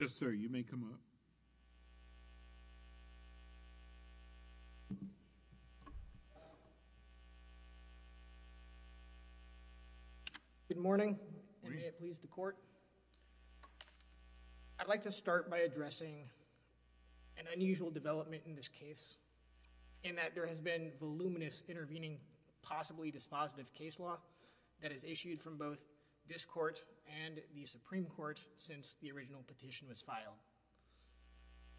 Good morning and may it please the Court, I'd like to start by addressing an unusual development in this case in that there has been voluminous intervening possibly dispositive case law that has issued from both this Court and the Supreme Court since the original petition was filed,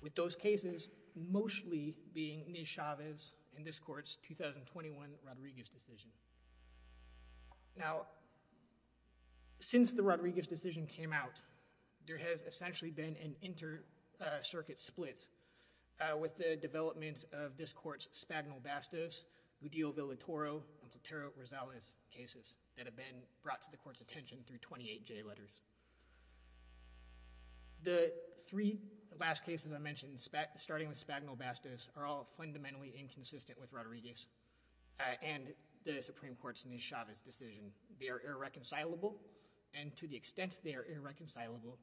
with those cases mostly being Niz Chavez and this Court's 2021 Rodriguez decision. Now since the Rodriguez decision came out, there has essentially been an inter-circuit split with the development of this Court's Spagnol-Bastos, Gudillo-Villatoro, and Platero-Rosales cases that have been brought to the Court's attention through 28J letters. The three last cases I mentioned starting with Spagnol-Bastos are all fundamentally inconsistent with Rodriguez and the Supreme Court's Niz Chavez decision. They are irreconcilable and to the extent they are irreconcilable,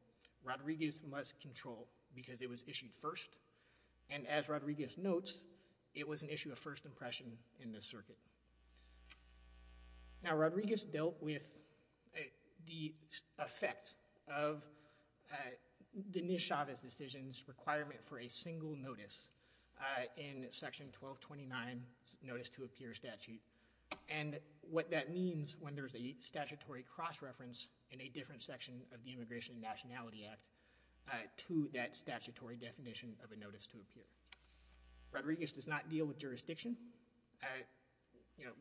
Rodriguez must control because it was issued first and as Rodriguez notes, it was an issue of first impression in this circuit. Now Rodriguez dealt with the effect of the Niz Chavez decision's requirement for a single notice in Section 1229 Notice to Appear statute and what that means when there's a statutory cross-reference in a different section of the Immigration and Nationality Act to that statutory definition of a Notice to Appear. Rodriguez does not deal with jurisdiction.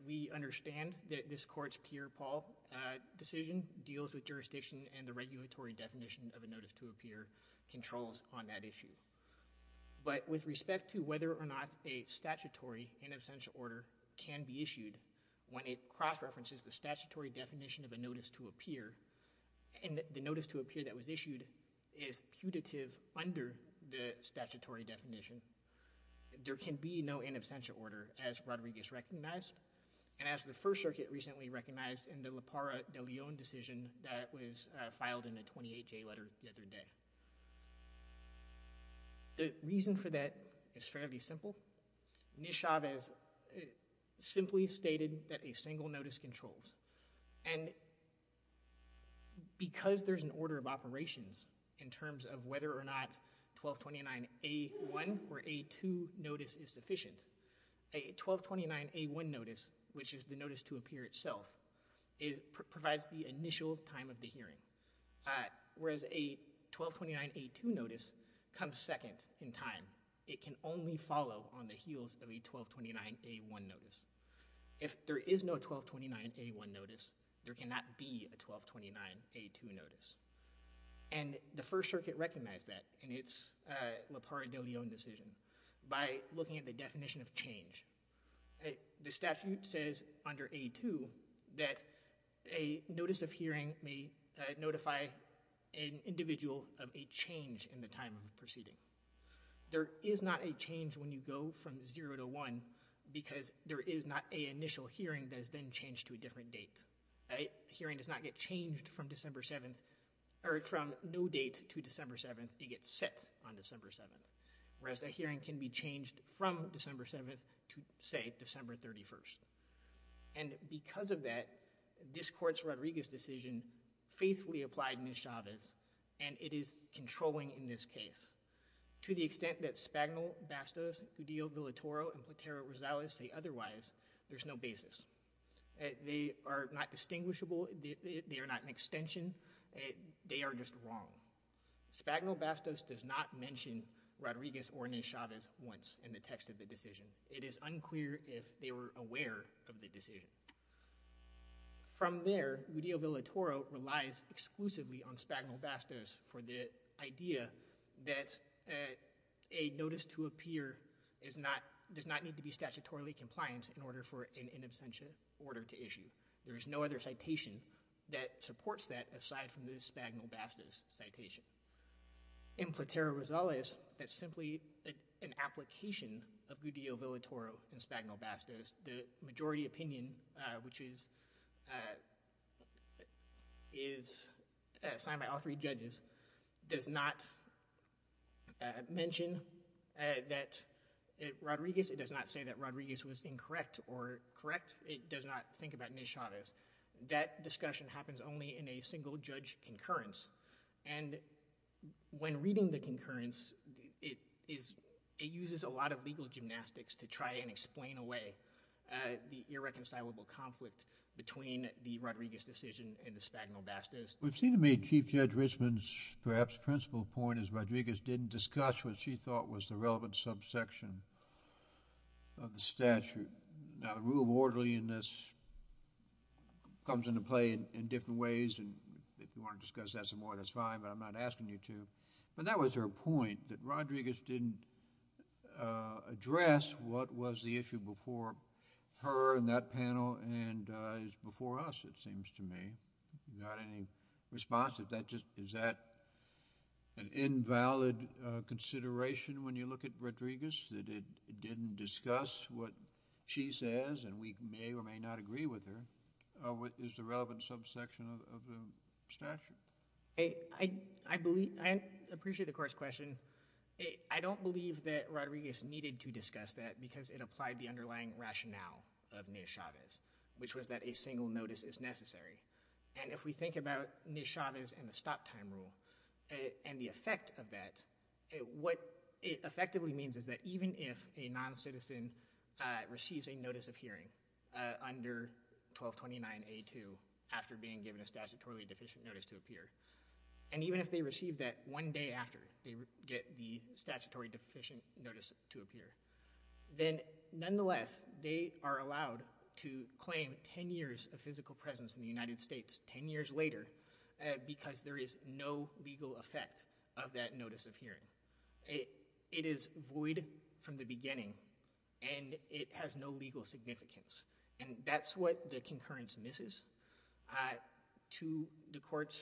We understand that this Court's Pierre-Paul decision deals with jurisdiction and the regulatory definition of a Notice to Appear controls on that issue, but with respect to whether or not a statutory in absentia order can be issued when it cross-references the statutory definition of a Notice to Appear and the Notice to Appear that was issued is putative under the statutory definition, there can be no in absentia order as Rodriguez recognized and as the First Circuit recently recognized in the La Parra de Leon decision that was filed in a 28-J letter the other day. The reason for that is fairly simple. Niz Chavez simply stated that a single notice controls and because there's an order of operations in terms of whether or not 1229 A1 or A2 notice is sufficient, a 1229 A1 notice which is the Notice to Appear itself provides the initial time of the hearing, whereas a 1229 A2 notice comes second in time. It can only follow on the heels of a 1229 A1 notice. If there is no 1229 A1 notice, there cannot be a 1229 A2 notice and the First Circuit recognized that in its La Parra de Leon decision by looking at the definition of change. The statute says under A2 that a notice of hearing may notify an individual of a change in the time of proceeding. There is not a change when you go from zero to one because there is not a initial hearing that has been changed to a different date. A hearing does not get changed from December 7th or from no date to December 7th. It gets set on December 7th, whereas a hearing can be changed from December 7th to say December 31st. And because of that, this Court's Rodriguez decision faithfully applied Niz Chavez and it is controlling in this case. To the extent that Spagnol, Bastos, Udillo, Villatoro, and Platero-Rosales say otherwise, there's no basis. They are not distinguishable. They are not an extension. They are just wrong. Spagnol, Bastos does not mention Rodriguez or Niz Chavez once in the text of the decision. It is unclear if they were aware of the decision. From there, Udillo, Villatoro relies exclusively on Spagnol, Bastos for the idea that a notice to appear does not need to be statutorily compliant in order for an in absentia order to issue. There is no other citation that supports that aside from the Spagnol, Bastos citation. In Platero-Rosales, that's simply an application of Udillo, Villatoro, and Spagnol, Bastos. The that Rodriguez, it does not say that Rodriguez was incorrect or correct. It does not think about Niz Chavez. That discussion happens only in a single judge concurrence and when reading the concurrence, it is, it uses a lot of legal gymnastics to try and explain away the irreconcilable conflict between the Rodriguez decision and the Spagnol, Bastos. We've seen to me Chief Judge Richmond's perhaps principal point is Rodriguez didn't discuss what she thought was the relevant subsection of the statute. Now, the rule of orderliness comes into play in different ways and if you want to discuss that some more, that's fine, but I'm not asking you to, but that was her point that Rodriguez didn't address what was the issue before her and that is that an invalid consideration when you look at Rodriguez that it didn't discuss what she says and we may or may not agree with her of what is the relevant subsection of the statute. I believe, I appreciate the court's question. I don't believe that Rodriguez needed to discuss that because it applied the underlying rationale of Niz Chavez, which was that a single notice is necessary and if we think about Niz Chavez and the stop time rule and the effect of that, what it effectively means is that even if a non-citizen receives a notice of hearing under 1229A2 after being given a statutorily deficient notice to appear and even if they receive that one day after they get the statutory deficient notice to appear, then nonetheless, they are allowed to claim 10 years of physical presence in the United States 10 years later because there is no legal effect of that notice of hearing. It is void from the beginning and it has no legal significance and that's what the concurrence misses. To the court's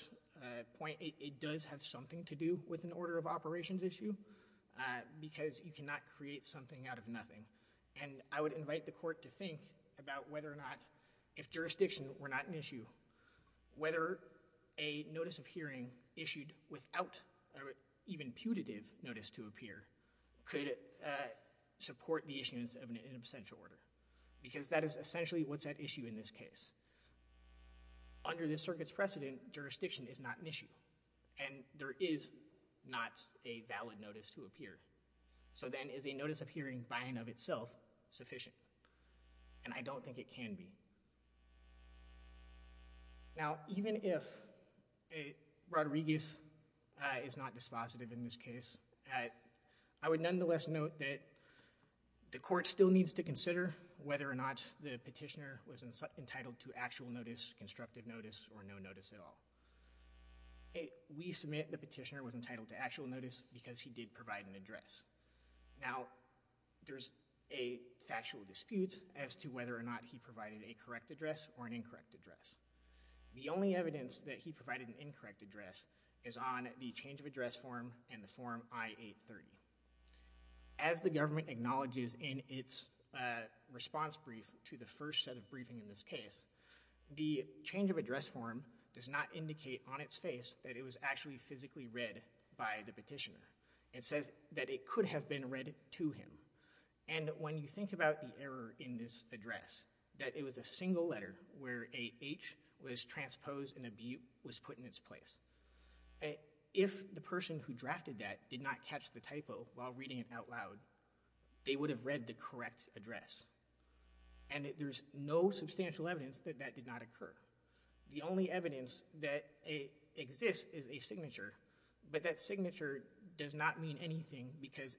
point, it does have something to do with an order of operations issue because you cannot create something out of nothing and I would invite the court to think about whether or not if jurisdiction were not an issue, whether a notice of hearing issued without even putative notice to appear could support the issuance of an in absentia order because that is essentially what's at issue in this case. Under this circuit's precedent, jurisdiction is not an issue and there is not a valid notice to appear so then is a notice of hearing by and of itself sufficient and I don't think it can be. Now, even if a Rodriguez is not dispositive in this case, I would nonetheless note that the court still needs to consider whether or not the petitioner was entitled to actual notice, constructive notice, or no notice at all. We submit the petitioner was entitled to actual notice because he did provide an address. Now, there's a factual dispute as to whether or not he provided a correct address or an incorrect address. The only evidence that he provided an incorrect address is on the change of address form and the form I-830. As the government acknowledges in its response brief to the that it was actually physically read by the petitioner. It says that it could have been read to him and when you think about the error in this address, that it was a single letter where a H was transposed and a B was put in its place. If the person who drafted that did not catch the typo while reading it out loud, they would have read the correct address and there's no substantial evidence that that did not occur. The only evidence that exists is a signature, but that signature does not mean anything because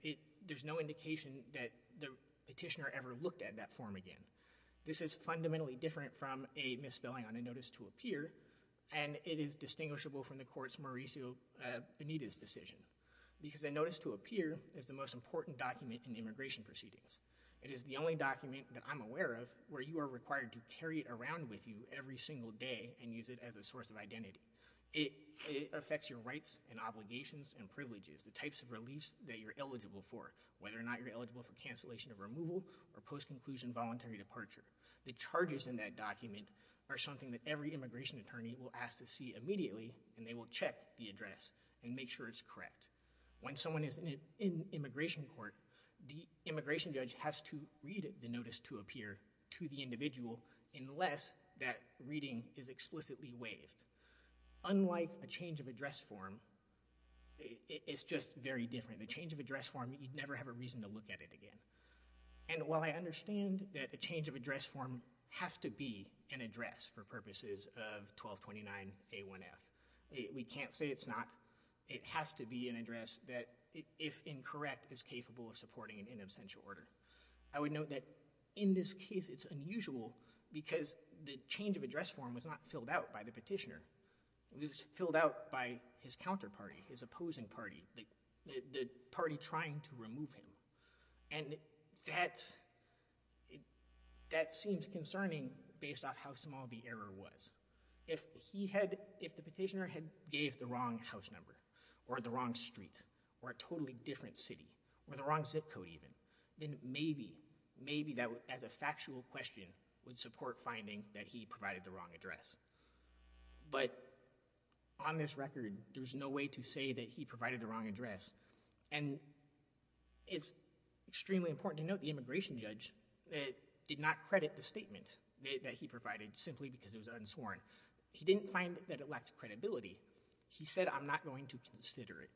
there's no indication that the petitioner ever looked at that form again. This is fundamentally different from a misspelling on a notice to appear and it is distinguishable from the court's Mauricio Benitez decision because a notice to appear is the most important document in immigration proceedings. It is the only document that I'm around with you every single day and use it as a source of identity. It affects your rights and obligations and privileges, the types of release that you're eligible for, whether or not you're eligible for cancellation of removal or post-conclusion voluntary departure. The charges in that document are something that every immigration attorney will ask to see immediately and they will check the address and make sure it's correct. When someone is in immigration court, the immigration judge has to read the notice to appear to the individual unless that reading is explicitly waived. Unlike a change of address form, it's just very different. The change of address form, you'd never have a reason to look at it again and while I understand that a change of address form has to be an address for purposes of 1229 A1F, we can't say it's not. It has to be an address that if incorrect is capable of supporting an in absentia order. I would note that in this case, it's unusual because the change of address form was not filled out by the petitioner. It was filled out by his counterparty, his opposing party, the party trying to remove him and that seems concerning based off how small the error was. If he had, if the petitioner had gave the wrong house number or the wrong street or a totally different city or the wrong zip code even, then maybe, maybe that as a factual question would support finding that he provided the wrong address. But on this record, there's no way to say that he provided the wrong address and it's extremely important to note the immigration judge did not credit the statement that he provided simply because it was unsworn. He didn't find that it lacked credibility. He said I'm not going to consider it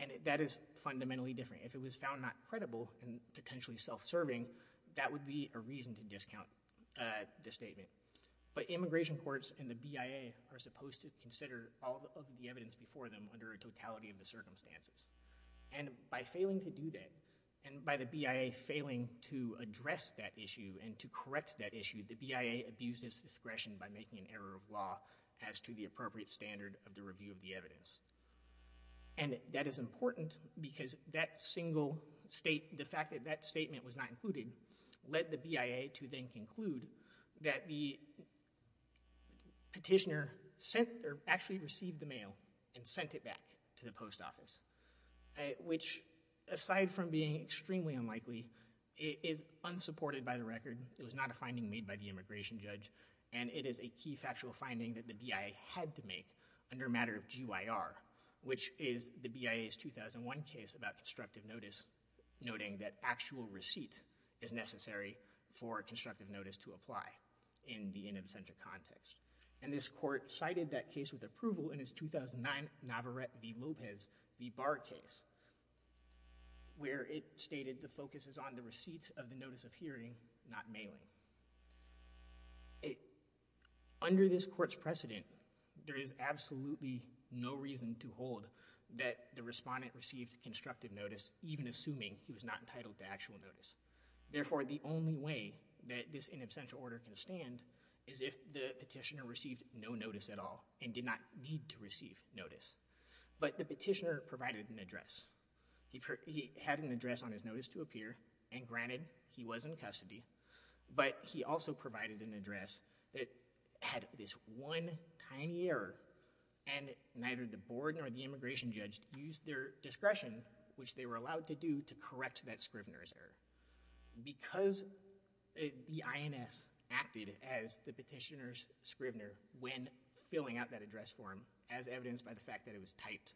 and that is fundamentally different. If it was found not credible and potentially self-serving, that would be a reason to discount the statement. But immigration courts and the BIA are supposed to consider all of the evidence before them under a totality of the circumstances and by failing to do that and by the BIA failing to address that issue and to correct that issue, the BIA abuses discretion by making an error of law as to the appropriate standard of the review of the evidence. And that is important because that single state, the fact that that statement was not included led the BIA to then conclude that the petitioner sent or actually received the mail and sent it back to the post office, which aside from being extremely unlikely, is unsupported by the record. It was not a finding made by the immigration judge and it is a key factual finding that the BIA had to make under matter of GYR, which is the BIA's 2001 case about constructive notice, noting that actual receipt is necessary for constructive notice to apply in the in absentia context. And this court cited that case with approval in its 2009 Navarette v. Lopez v. Barr case, where it stated the focus is on the receipt of the notice of hearing, not mailing. Under this court's precedent, there is absolutely no reason to hold that the respondent received constructive notice, even assuming he was not entitled to actual notice. Therefore, the only way that this in absentia order can stand is if the petitioner received no notice at all and did not need to receive notice. But the petitioner provided an address. He had an address on his notice to appear and granted he was in custody, but he also provided an address that had this one tiny error and neither the board nor the immigration judge used their discretion, which they were allowed to do, to correct that Scrivner's error. Because the INS acted as the petitioner's filling out that address form as evidenced by the fact that it was typed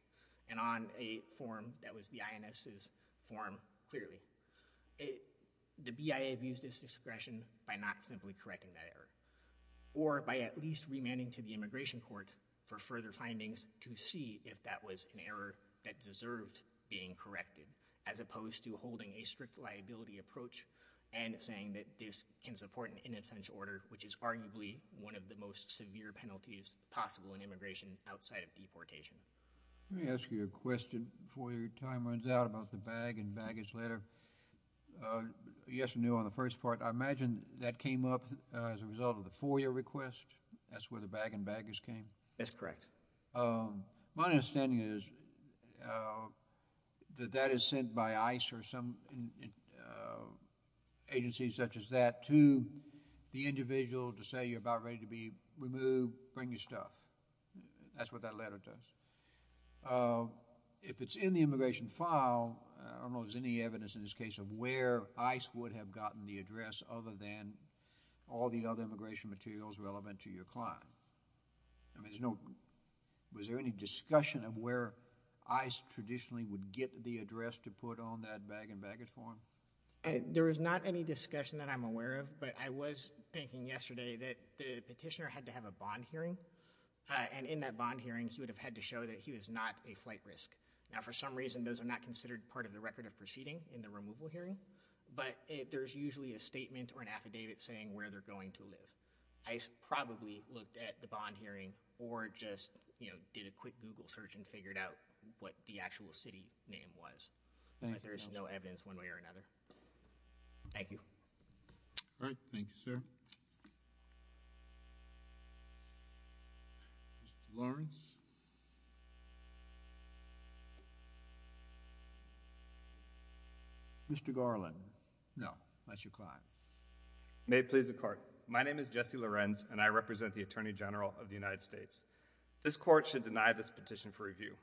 and on a form that was the INS's form clearly. The BIA abused its discretion by not simply correcting that error or by at least remanding to the immigration court for further findings to see if that was an error that deserved being corrected, as opposed to holding a strict liability approach and saying that this can support an in absentia order, which is arguably one of the most severe penalties possible in immigration outside of deportation. Let me ask you a question before your time runs out about the bag and baggage letter. Yes or no on the first part. I imagine that came up as a result of the FOIA request. That's where the bag and baggage came? That's correct. My understanding is that that is sent by ICE or some agencies such as that to the individual to say you're about ready to be removed, bring your stuff. That's what that letter does. If it's in the immigration file, I don't know if there's any evidence in this case of where ICE would have gotten the address other than all the other immigration materials relevant to your client. I mean, was there any discussion of where ICE traditionally would get the address to put on that bag and baggage form? There is not any discussion that I'm aware of, but I was thinking yesterday that the petitioner had to have a bond hearing, and in that bond hearing, he would have had to show that he was not a flight risk. Now, for some reason, those are not considered part of the record of proceeding in the removal hearing, but there's usually a statement or the bond hearing or just, you know, did a quick Google search and figured out what the actual city name was, but there's no evidence one way or another. Thank you. All right. Thank you, sir. Mr. Lawrence. Mr. Garland. No, that's your client. May it please the court. My name is Jesse Lorenz, and I represent the Attorney General of the United States. This court should deny this petition for review.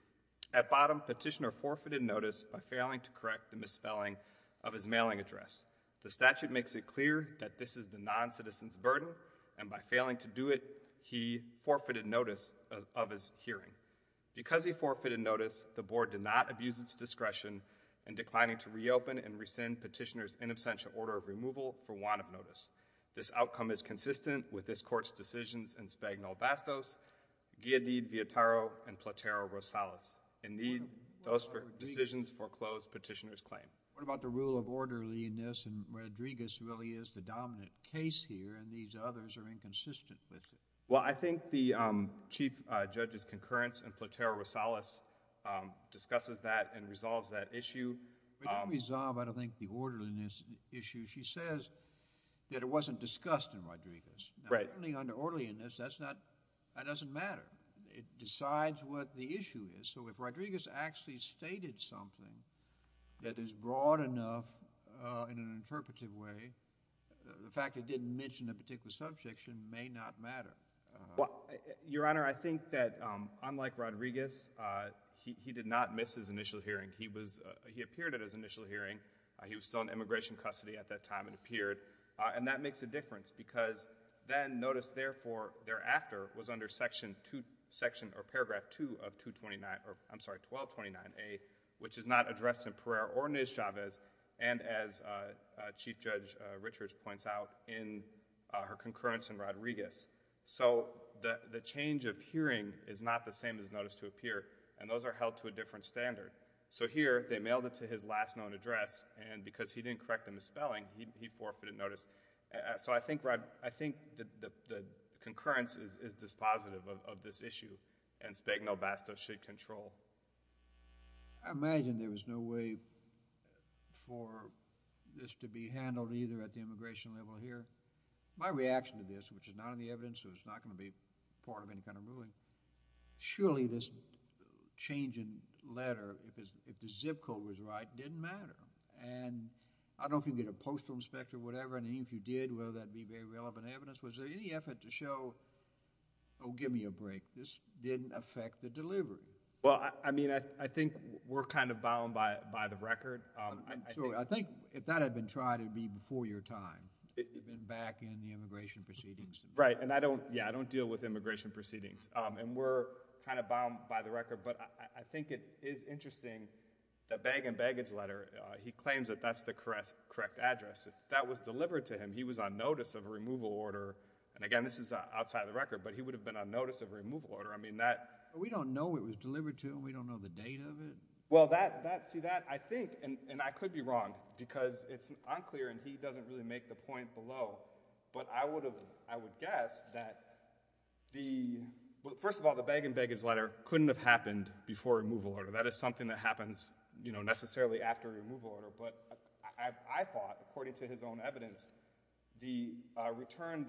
At bottom, petitioner forfeited notice by failing to correct the misspelling of his mailing address. The statute makes it clear that this is the non-citizen's burden, and by failing to do it, he forfeited notice of his hearing. Because he forfeited notice, the board did not abuse its discretion in declining to reopen and rescind petitioner's in absentia order of removal for want of notice. This outcome is consistent with this court's decisions in Spagnol-Bastos, Giadid, Viettaro, and Platero-Rosales. Indeed, those decisions foreclosed petitioner's claim. What about the rule of orderliness, and Rodriguez really is the dominant case here, and these others are inconsistent with it? Well, I think the Chief Judge's concurrence in Platero-Rosales discusses that and resolves that issue. We don't resolve, I don't think, the orderliness issue. She says that it wasn't discussed in Rodriguez. Right. Now, certainly under orderliness, that's not, that doesn't matter. It decides what the issue is. So if Rodriguez actually stated something that is broad enough in an interpretive way, the fact it didn't mention a particular subjection may not matter. Well, Your Honor, I think that unlike Rodriguez, he did not miss his initial hearing. He was, he appeared at his initial hearing. He was still in immigration custody at that time and appeared, and that makes a difference because then notice, therefore, thereafter was under section two, section or paragraph two of 229, or I'm sorry, 1229A, which is not addressed in Pereira or Nez Chavez, and as Chief Judge Richards points out in her concurrence in Rodriguez. So the, the change of hearing is not the same as notice to appear, and those are held to a different standard. So here, they mailed it to his last known address, and because he didn't correct the misspelling, he, he forfeited notice. So I think, Rod, I think that the, the concurrence is, is dispositive of, of this issue, and Spagnol-Bastos should control. I imagine there was no way for this to be handled either at the immigration level here. My reaction to this, which is not in the evidence, so it's not going to be part of any kind of ruling, surely this change in letter, if it's, if the zip code was right, didn't matter, and I don't know if you get a postal inspector or whatever, and even if you did, whether that'd be very relevant evidence. Was there any effort to show, oh, give me a break, this didn't affect the delivery? Well, I mean, I, I think we're kind of bound by, by the record. I think if that had been tried, it'd be before your time. You've been back in the immigration proceedings. Right, and I don't, yeah, I don't deal with immigration proceedings, and we're kind of bound by the record, but I, I think it is interesting, the bag and baggage letter, he claims that that's the correct, correct address. If that was delivered to him, he was on notice of a removal order, and again, this is outside the record, but he would have been on notice of a removal order. I mean, that... We don't know it was delivered to him. We don't know the date of it. Well, that, that, see, that, I think, and, and I could be wrong, because it's unclear, and he doesn't really make the point below, but I would have, I would guess that the, well, first of all, the bag and baggage letter couldn't have happened before removal order. That is something that happens, you know, necessarily after removal order, but I, I thought, according to his own evidence, the returned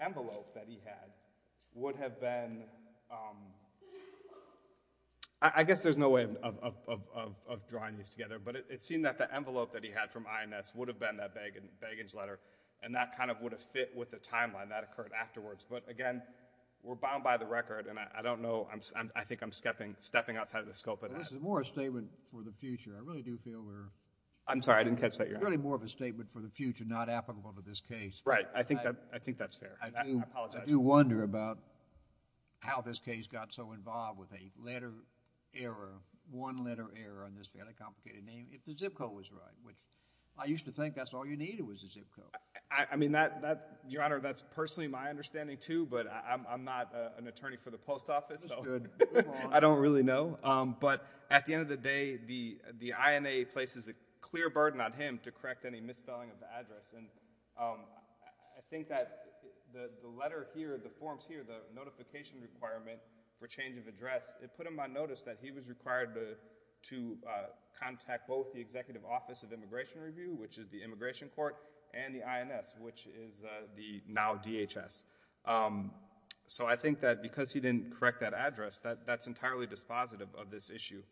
envelope that he had would have been, um, I, I guess there's no way of, of, of, of, of drawing these together, but it, it seemed that the envelope that he had from INS would have been that bag and, baggage letter, and that kind of would have fit with the timeline that occurred afterwards, but again, we're bound by the record, and I, I don't know, I'm, I think I'm stepping, stepping outside of the scope of... This is more a statement for the future. I really do feel we're... I'm sorry, I didn't catch that. It's really more of a statement for the future, not applicable to this case. Right. I think that, I think that's fair. I apologize. I do wonder about how this case got so involved with a letter error, one letter error on this fairly complicated name, if the zip code was right, which I used to think that's all you needed was a zip code. I, I mean, that, that, Your Honor, that's personally my understanding too, but I, I'm, I'm not a, an attorney for the post office, so... That's good. I don't really know, um, but at the end of the day, the, the INA places a clear burden on him to correct any misspelling of the address, and, um, I, I think that the, the letter here, the forms here, the notification requirement for change of address, it put him on notice that he was required to, to, uh, contact both the Executive Office of Immigration Review, which is the Immigration Court, and the INS, which is, uh, the now DHS. Um, so I think that because he didn't correct that address, that, that's entirely dispositive of this issue.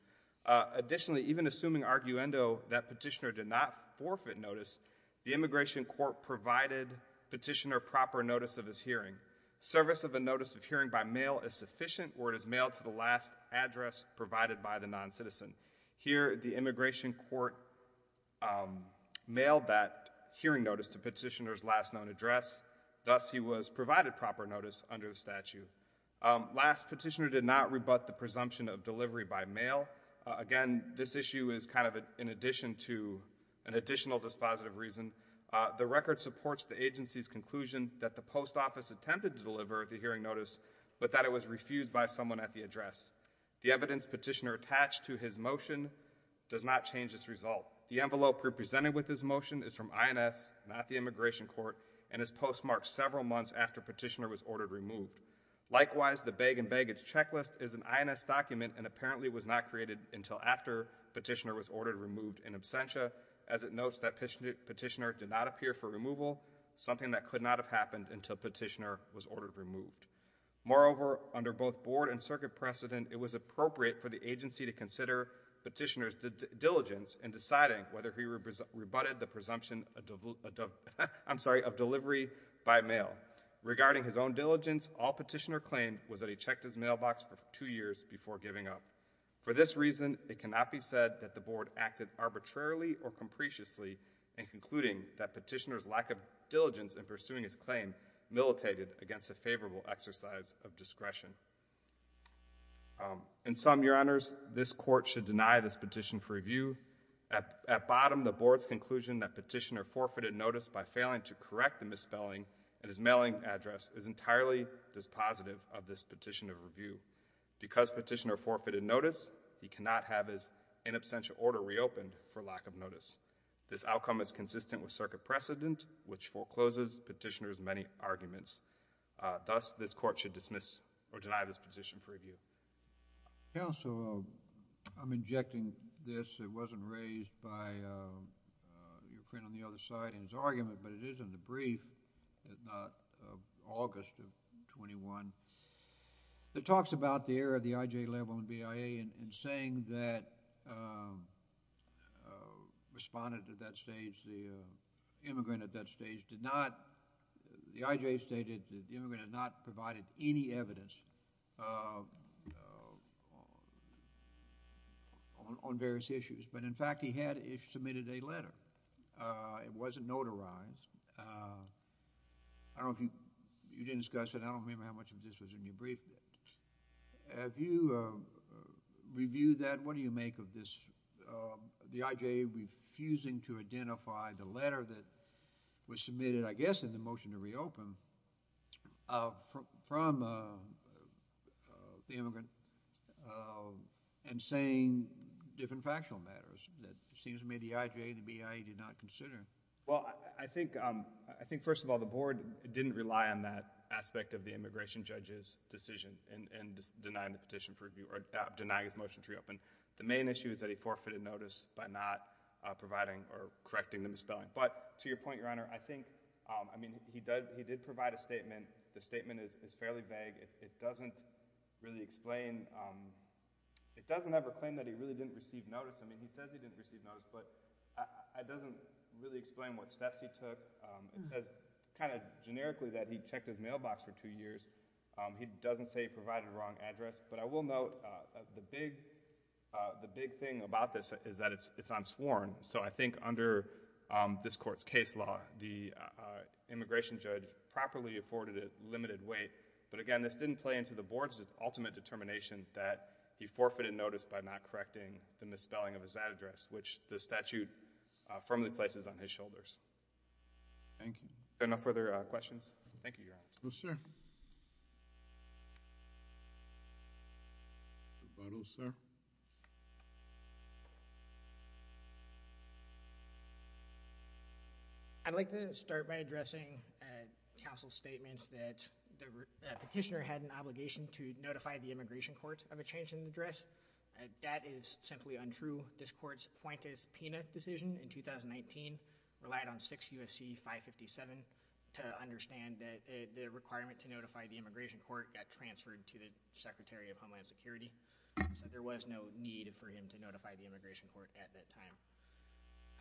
Uh, additionally, even assuming arguendo that petitioner did not forfeit notice, the Immigration Court provided petitioner proper notice of his hearing. Service of a notice of hearing by mail is sufficient, or it is mailed to the last address provided by the noncitizen. Here, the Immigration Court, um, mailed that hearing notice to petitioner's last known address, thus he was provided proper notice under the statute. Um, last, petitioner did not rebut the presumption of delivery by mail. Uh, again, this issue is kind of a, in addition to an additional dispositive reason. Uh, the record supports the agency's conclusion that the Post Office attempted to deliver the hearing notice, but that it was refused by someone at the address. The evidence petitioner attached to his motion does not change this result. The envelope represented with this motion is from INS, not the Immigration Court, and is postmarked several months after petitioner was ordered removed. Likewise, the bag and baggage checklist is an INS document and apparently was not created until after petitioner was ordered removed in absentia, as it notes that petitioner did not appear for removal, something that could not have happened until petitioner was ordered removed. Moreover, under both board and circuit precedent, it was appropriate for the agency to consider petitioner's diligence in deciding whether he regarding his own diligence, all petitioner claimed was that he checked his mailbox for two years before giving up. For this reason, it cannot be said that the board acted arbitrarily or comprehensively in concluding that petitioner's lack of diligence in pursuing his claim militated against a favorable exercise of discretion. Um, in sum, your honors, this court should deny this petition for review. At, at bottom, the board's conclusion that is entirely dispositive of this petition of review. Because petitioner forfeited notice, he cannot have his in absentia order reopened for lack of notice. This outcome is consistent with circuit precedent, which forecloses petitioner's many arguments. Uh, thus, this court should dismiss or deny this petition for review. Counsel, I'm injecting this. It wasn't raised by, uh, uh, your friend on the other side in his argument, but it is in the brief. It's not, uh, August of 21. It talks about the error of the IJ level and BIA in, in saying that, um, uh, respondent at that stage, the, uh, immigrant at that stage did not, the IJ stated that the immigrant had not provided any evidence, uh, uh, on, on various issues. But in fact, he had, he submitted a letter. Uh, it wasn't notarized. Uh, I don't know if you, you didn't discuss it. I don't remember how much of this was in your brief. Have you, uh, reviewed that? What do you make of this, uh, the IJ refusing to identify the letter that was submitted, I guess, in the motion to reopen, uh, from, from, uh, uh, the immigrant, uh, and saying different factual matters that it seems to me the IJ and the BIA did not consider? Well, I, I think, um, I think first of all, the board didn't rely on that aspect of the immigration judge's decision in, in denying the petition for review or denying his motion to reopen. The main issue is that he forfeited notice by not, uh, providing or correcting the misspelling. But to your point, Your Honor, I think, um, I mean, he does, he did provide a statement. The statement is, is fairly vague. It, it doesn't really explain, um, it doesn't ever claim that he really didn't receive notice. I mean, he says he didn't receive notice, but it doesn't really explain what steps he took. Um, it says kind of generically that he checked his mailbox for two years. Um, he doesn't say he provided a wrong address. But I will note, uh, the big, uh, the big thing about this is that it's, it's unsworn. So I think under, um, this court's case law, the, uh, immigration judge properly afforded it limited weight. But again, this didn't play into the board's ultimate determination that he forfeited notice by not correcting the misspelling of his address, which the statute, uh, firmly places on his shoulders. Thank you. Are there no further, uh, questions? Thank you, Your Honor. No, sir. I'd like to start by addressing, uh, counsel's statements that the petitioner had an obligation to notify the immigration court of a change in address. Uh, that is simply untrue. This court's 557 to understand that, uh, the requirement to notify the immigration court got transferred to the Secretary of Homeland Security. So there was no need for him to notify the immigration court at that time.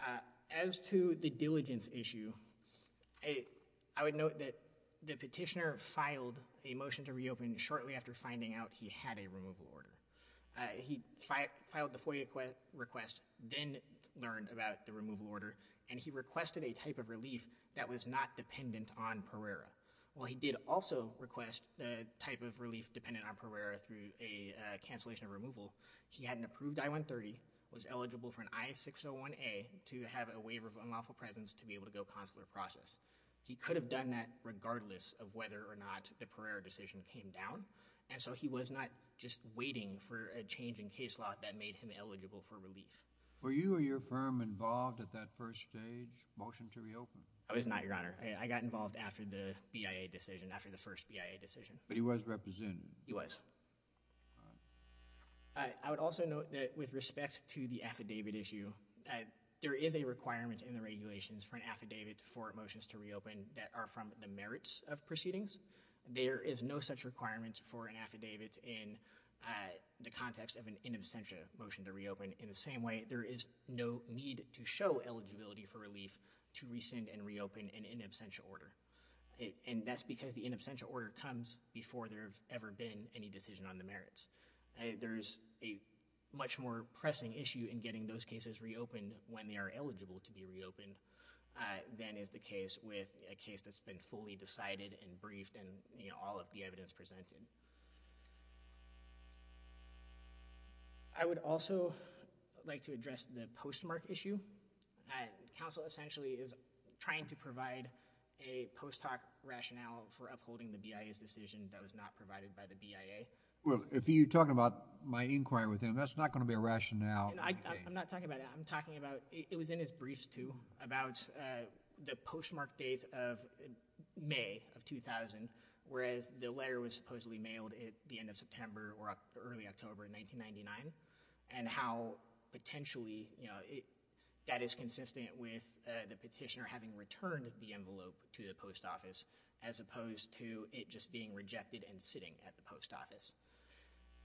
Uh, as to the diligence issue, I would note that the petitioner filed a motion to reopen shortly after finding out he had a removal order. Uh, he filed the FOIA request, then learned about the removal order, and he requested a type of relief that was not dependent on Pereira. While he did also request the type of relief dependent on Pereira through a, uh, cancellation of removal, he had an approved I-130, was eligible for an I-601A to have a waiver of unlawful presence to be able to go consular process. He could have done that regardless of whether or not the Pereira decision came down. And so he was not just waiting for a change in Were you or your firm involved at that first stage motion to reopen? I was not, Your Honor. I got involved after the BIA decision, after the first BIA decision. But he was represented? He was. I would also note that with respect to the affidavit issue, uh, there is a requirement in the regulations for an affidavit for motions to reopen that are from the merits of proceedings. There is no such requirement for an affidavit in, uh, the context of an in absentia motion to reopen. In the same way, there is no need to show eligibility for relief to rescind and reopen an in absentia order. And that's because the in absentia order comes before there have ever been any decision on the merits. There's a much more pressing issue in getting those cases reopened when they are eligible to be reopened, uh, than is the case with a case that's been fully decided and briefed and, you know, all of the evidence presented. I would also like to address the postmark issue. Uh, counsel essentially is trying to provide a post hoc rationale for upholding the BIA's decision that was not provided by the BIA. Well, if you're talking about my inquiry with him, that's not going to be a rationale. And I, I'm not talking about that. I'm talking about, it was in his briefs too, about, uh, the postmark date of May of 2000, whereas the letter was supposedly mailed at the end of September or early October 1999. And how potentially, you know, it, that is consistent with, uh, the petitioner having returned the envelope to the post office as opposed to it just being rejected and sitting at the post office.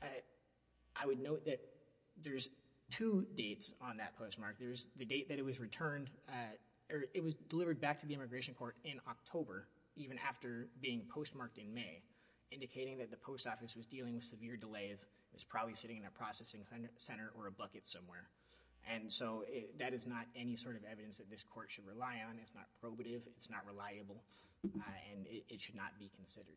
Uh, I would note that there's two dates on that postmark. There's the date that it was returned, uh, or it was delivered back to the immigration court in October, even after being postmarked in May, indicating that the post office was dealing with severe delays. It's probably sitting in a processing center or a bucket somewhere. And so, it, that is not any sort of evidence that this court should rely on. It's not probative. It's not reliable. Uh, and it, it should not be considered.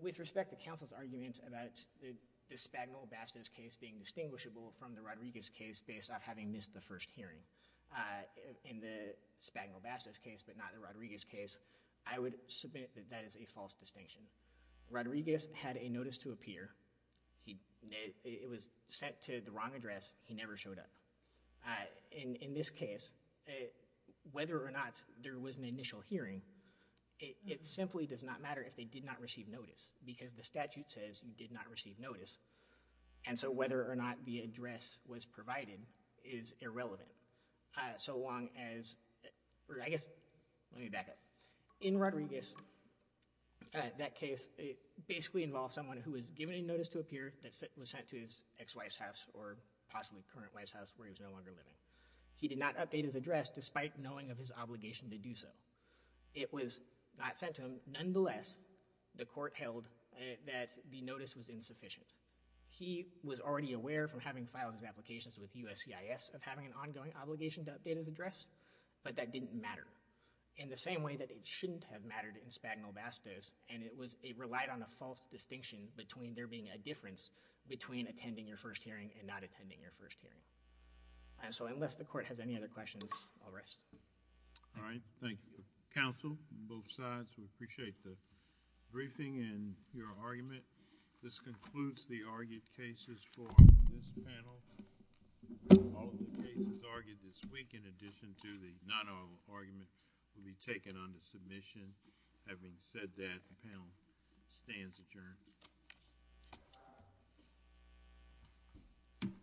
With respect to counsel's argument about the, the Spagnol-Bastos case being distinguishable from the Rodriguez case based off having missed the first hearing, uh, in the Spagnol-Bastos case but not the Rodriguez case, I would submit that that is a false distinction. Rodriguez had a notice to appear. He, it was sent to the wrong address. He never showed up. Uh, in, in this case, uh, whether or not there was an initial hearing, it, it simply does not matter if they did not receive notice because the statute says you did not receive notice. And so, whether or not the address was provided is irrelevant. Uh, so long as, or I guess, let me back up. In Rodriguez, uh, that case, it basically involved someone who was given a notice to appear that was sent to his ex-wife's house or possibly current wife's house where he was no longer living. He did not update his address despite knowing of his obligation to do so. It was not sent to him. Nonetheless, the court held that the notice was insufficient. He was already aware from having filed his applications with USCIS of having an ongoing obligation to update his address but that didn't matter in the same way that it shouldn't have mattered in Spagno-Bastos and it was, it relied on a false distinction between there being a difference between attending your first hearing and not attending your first hearing. And so, unless the court has any other questions, I'll rest. All right. Thank you. Counsel, both sides, we appreciate the briefing and your argument. This concludes the argued cases for this panel. All of the cases argued this week, in addition to the non-argument, will be taken under submission. Having said that, the panel stands adjourned.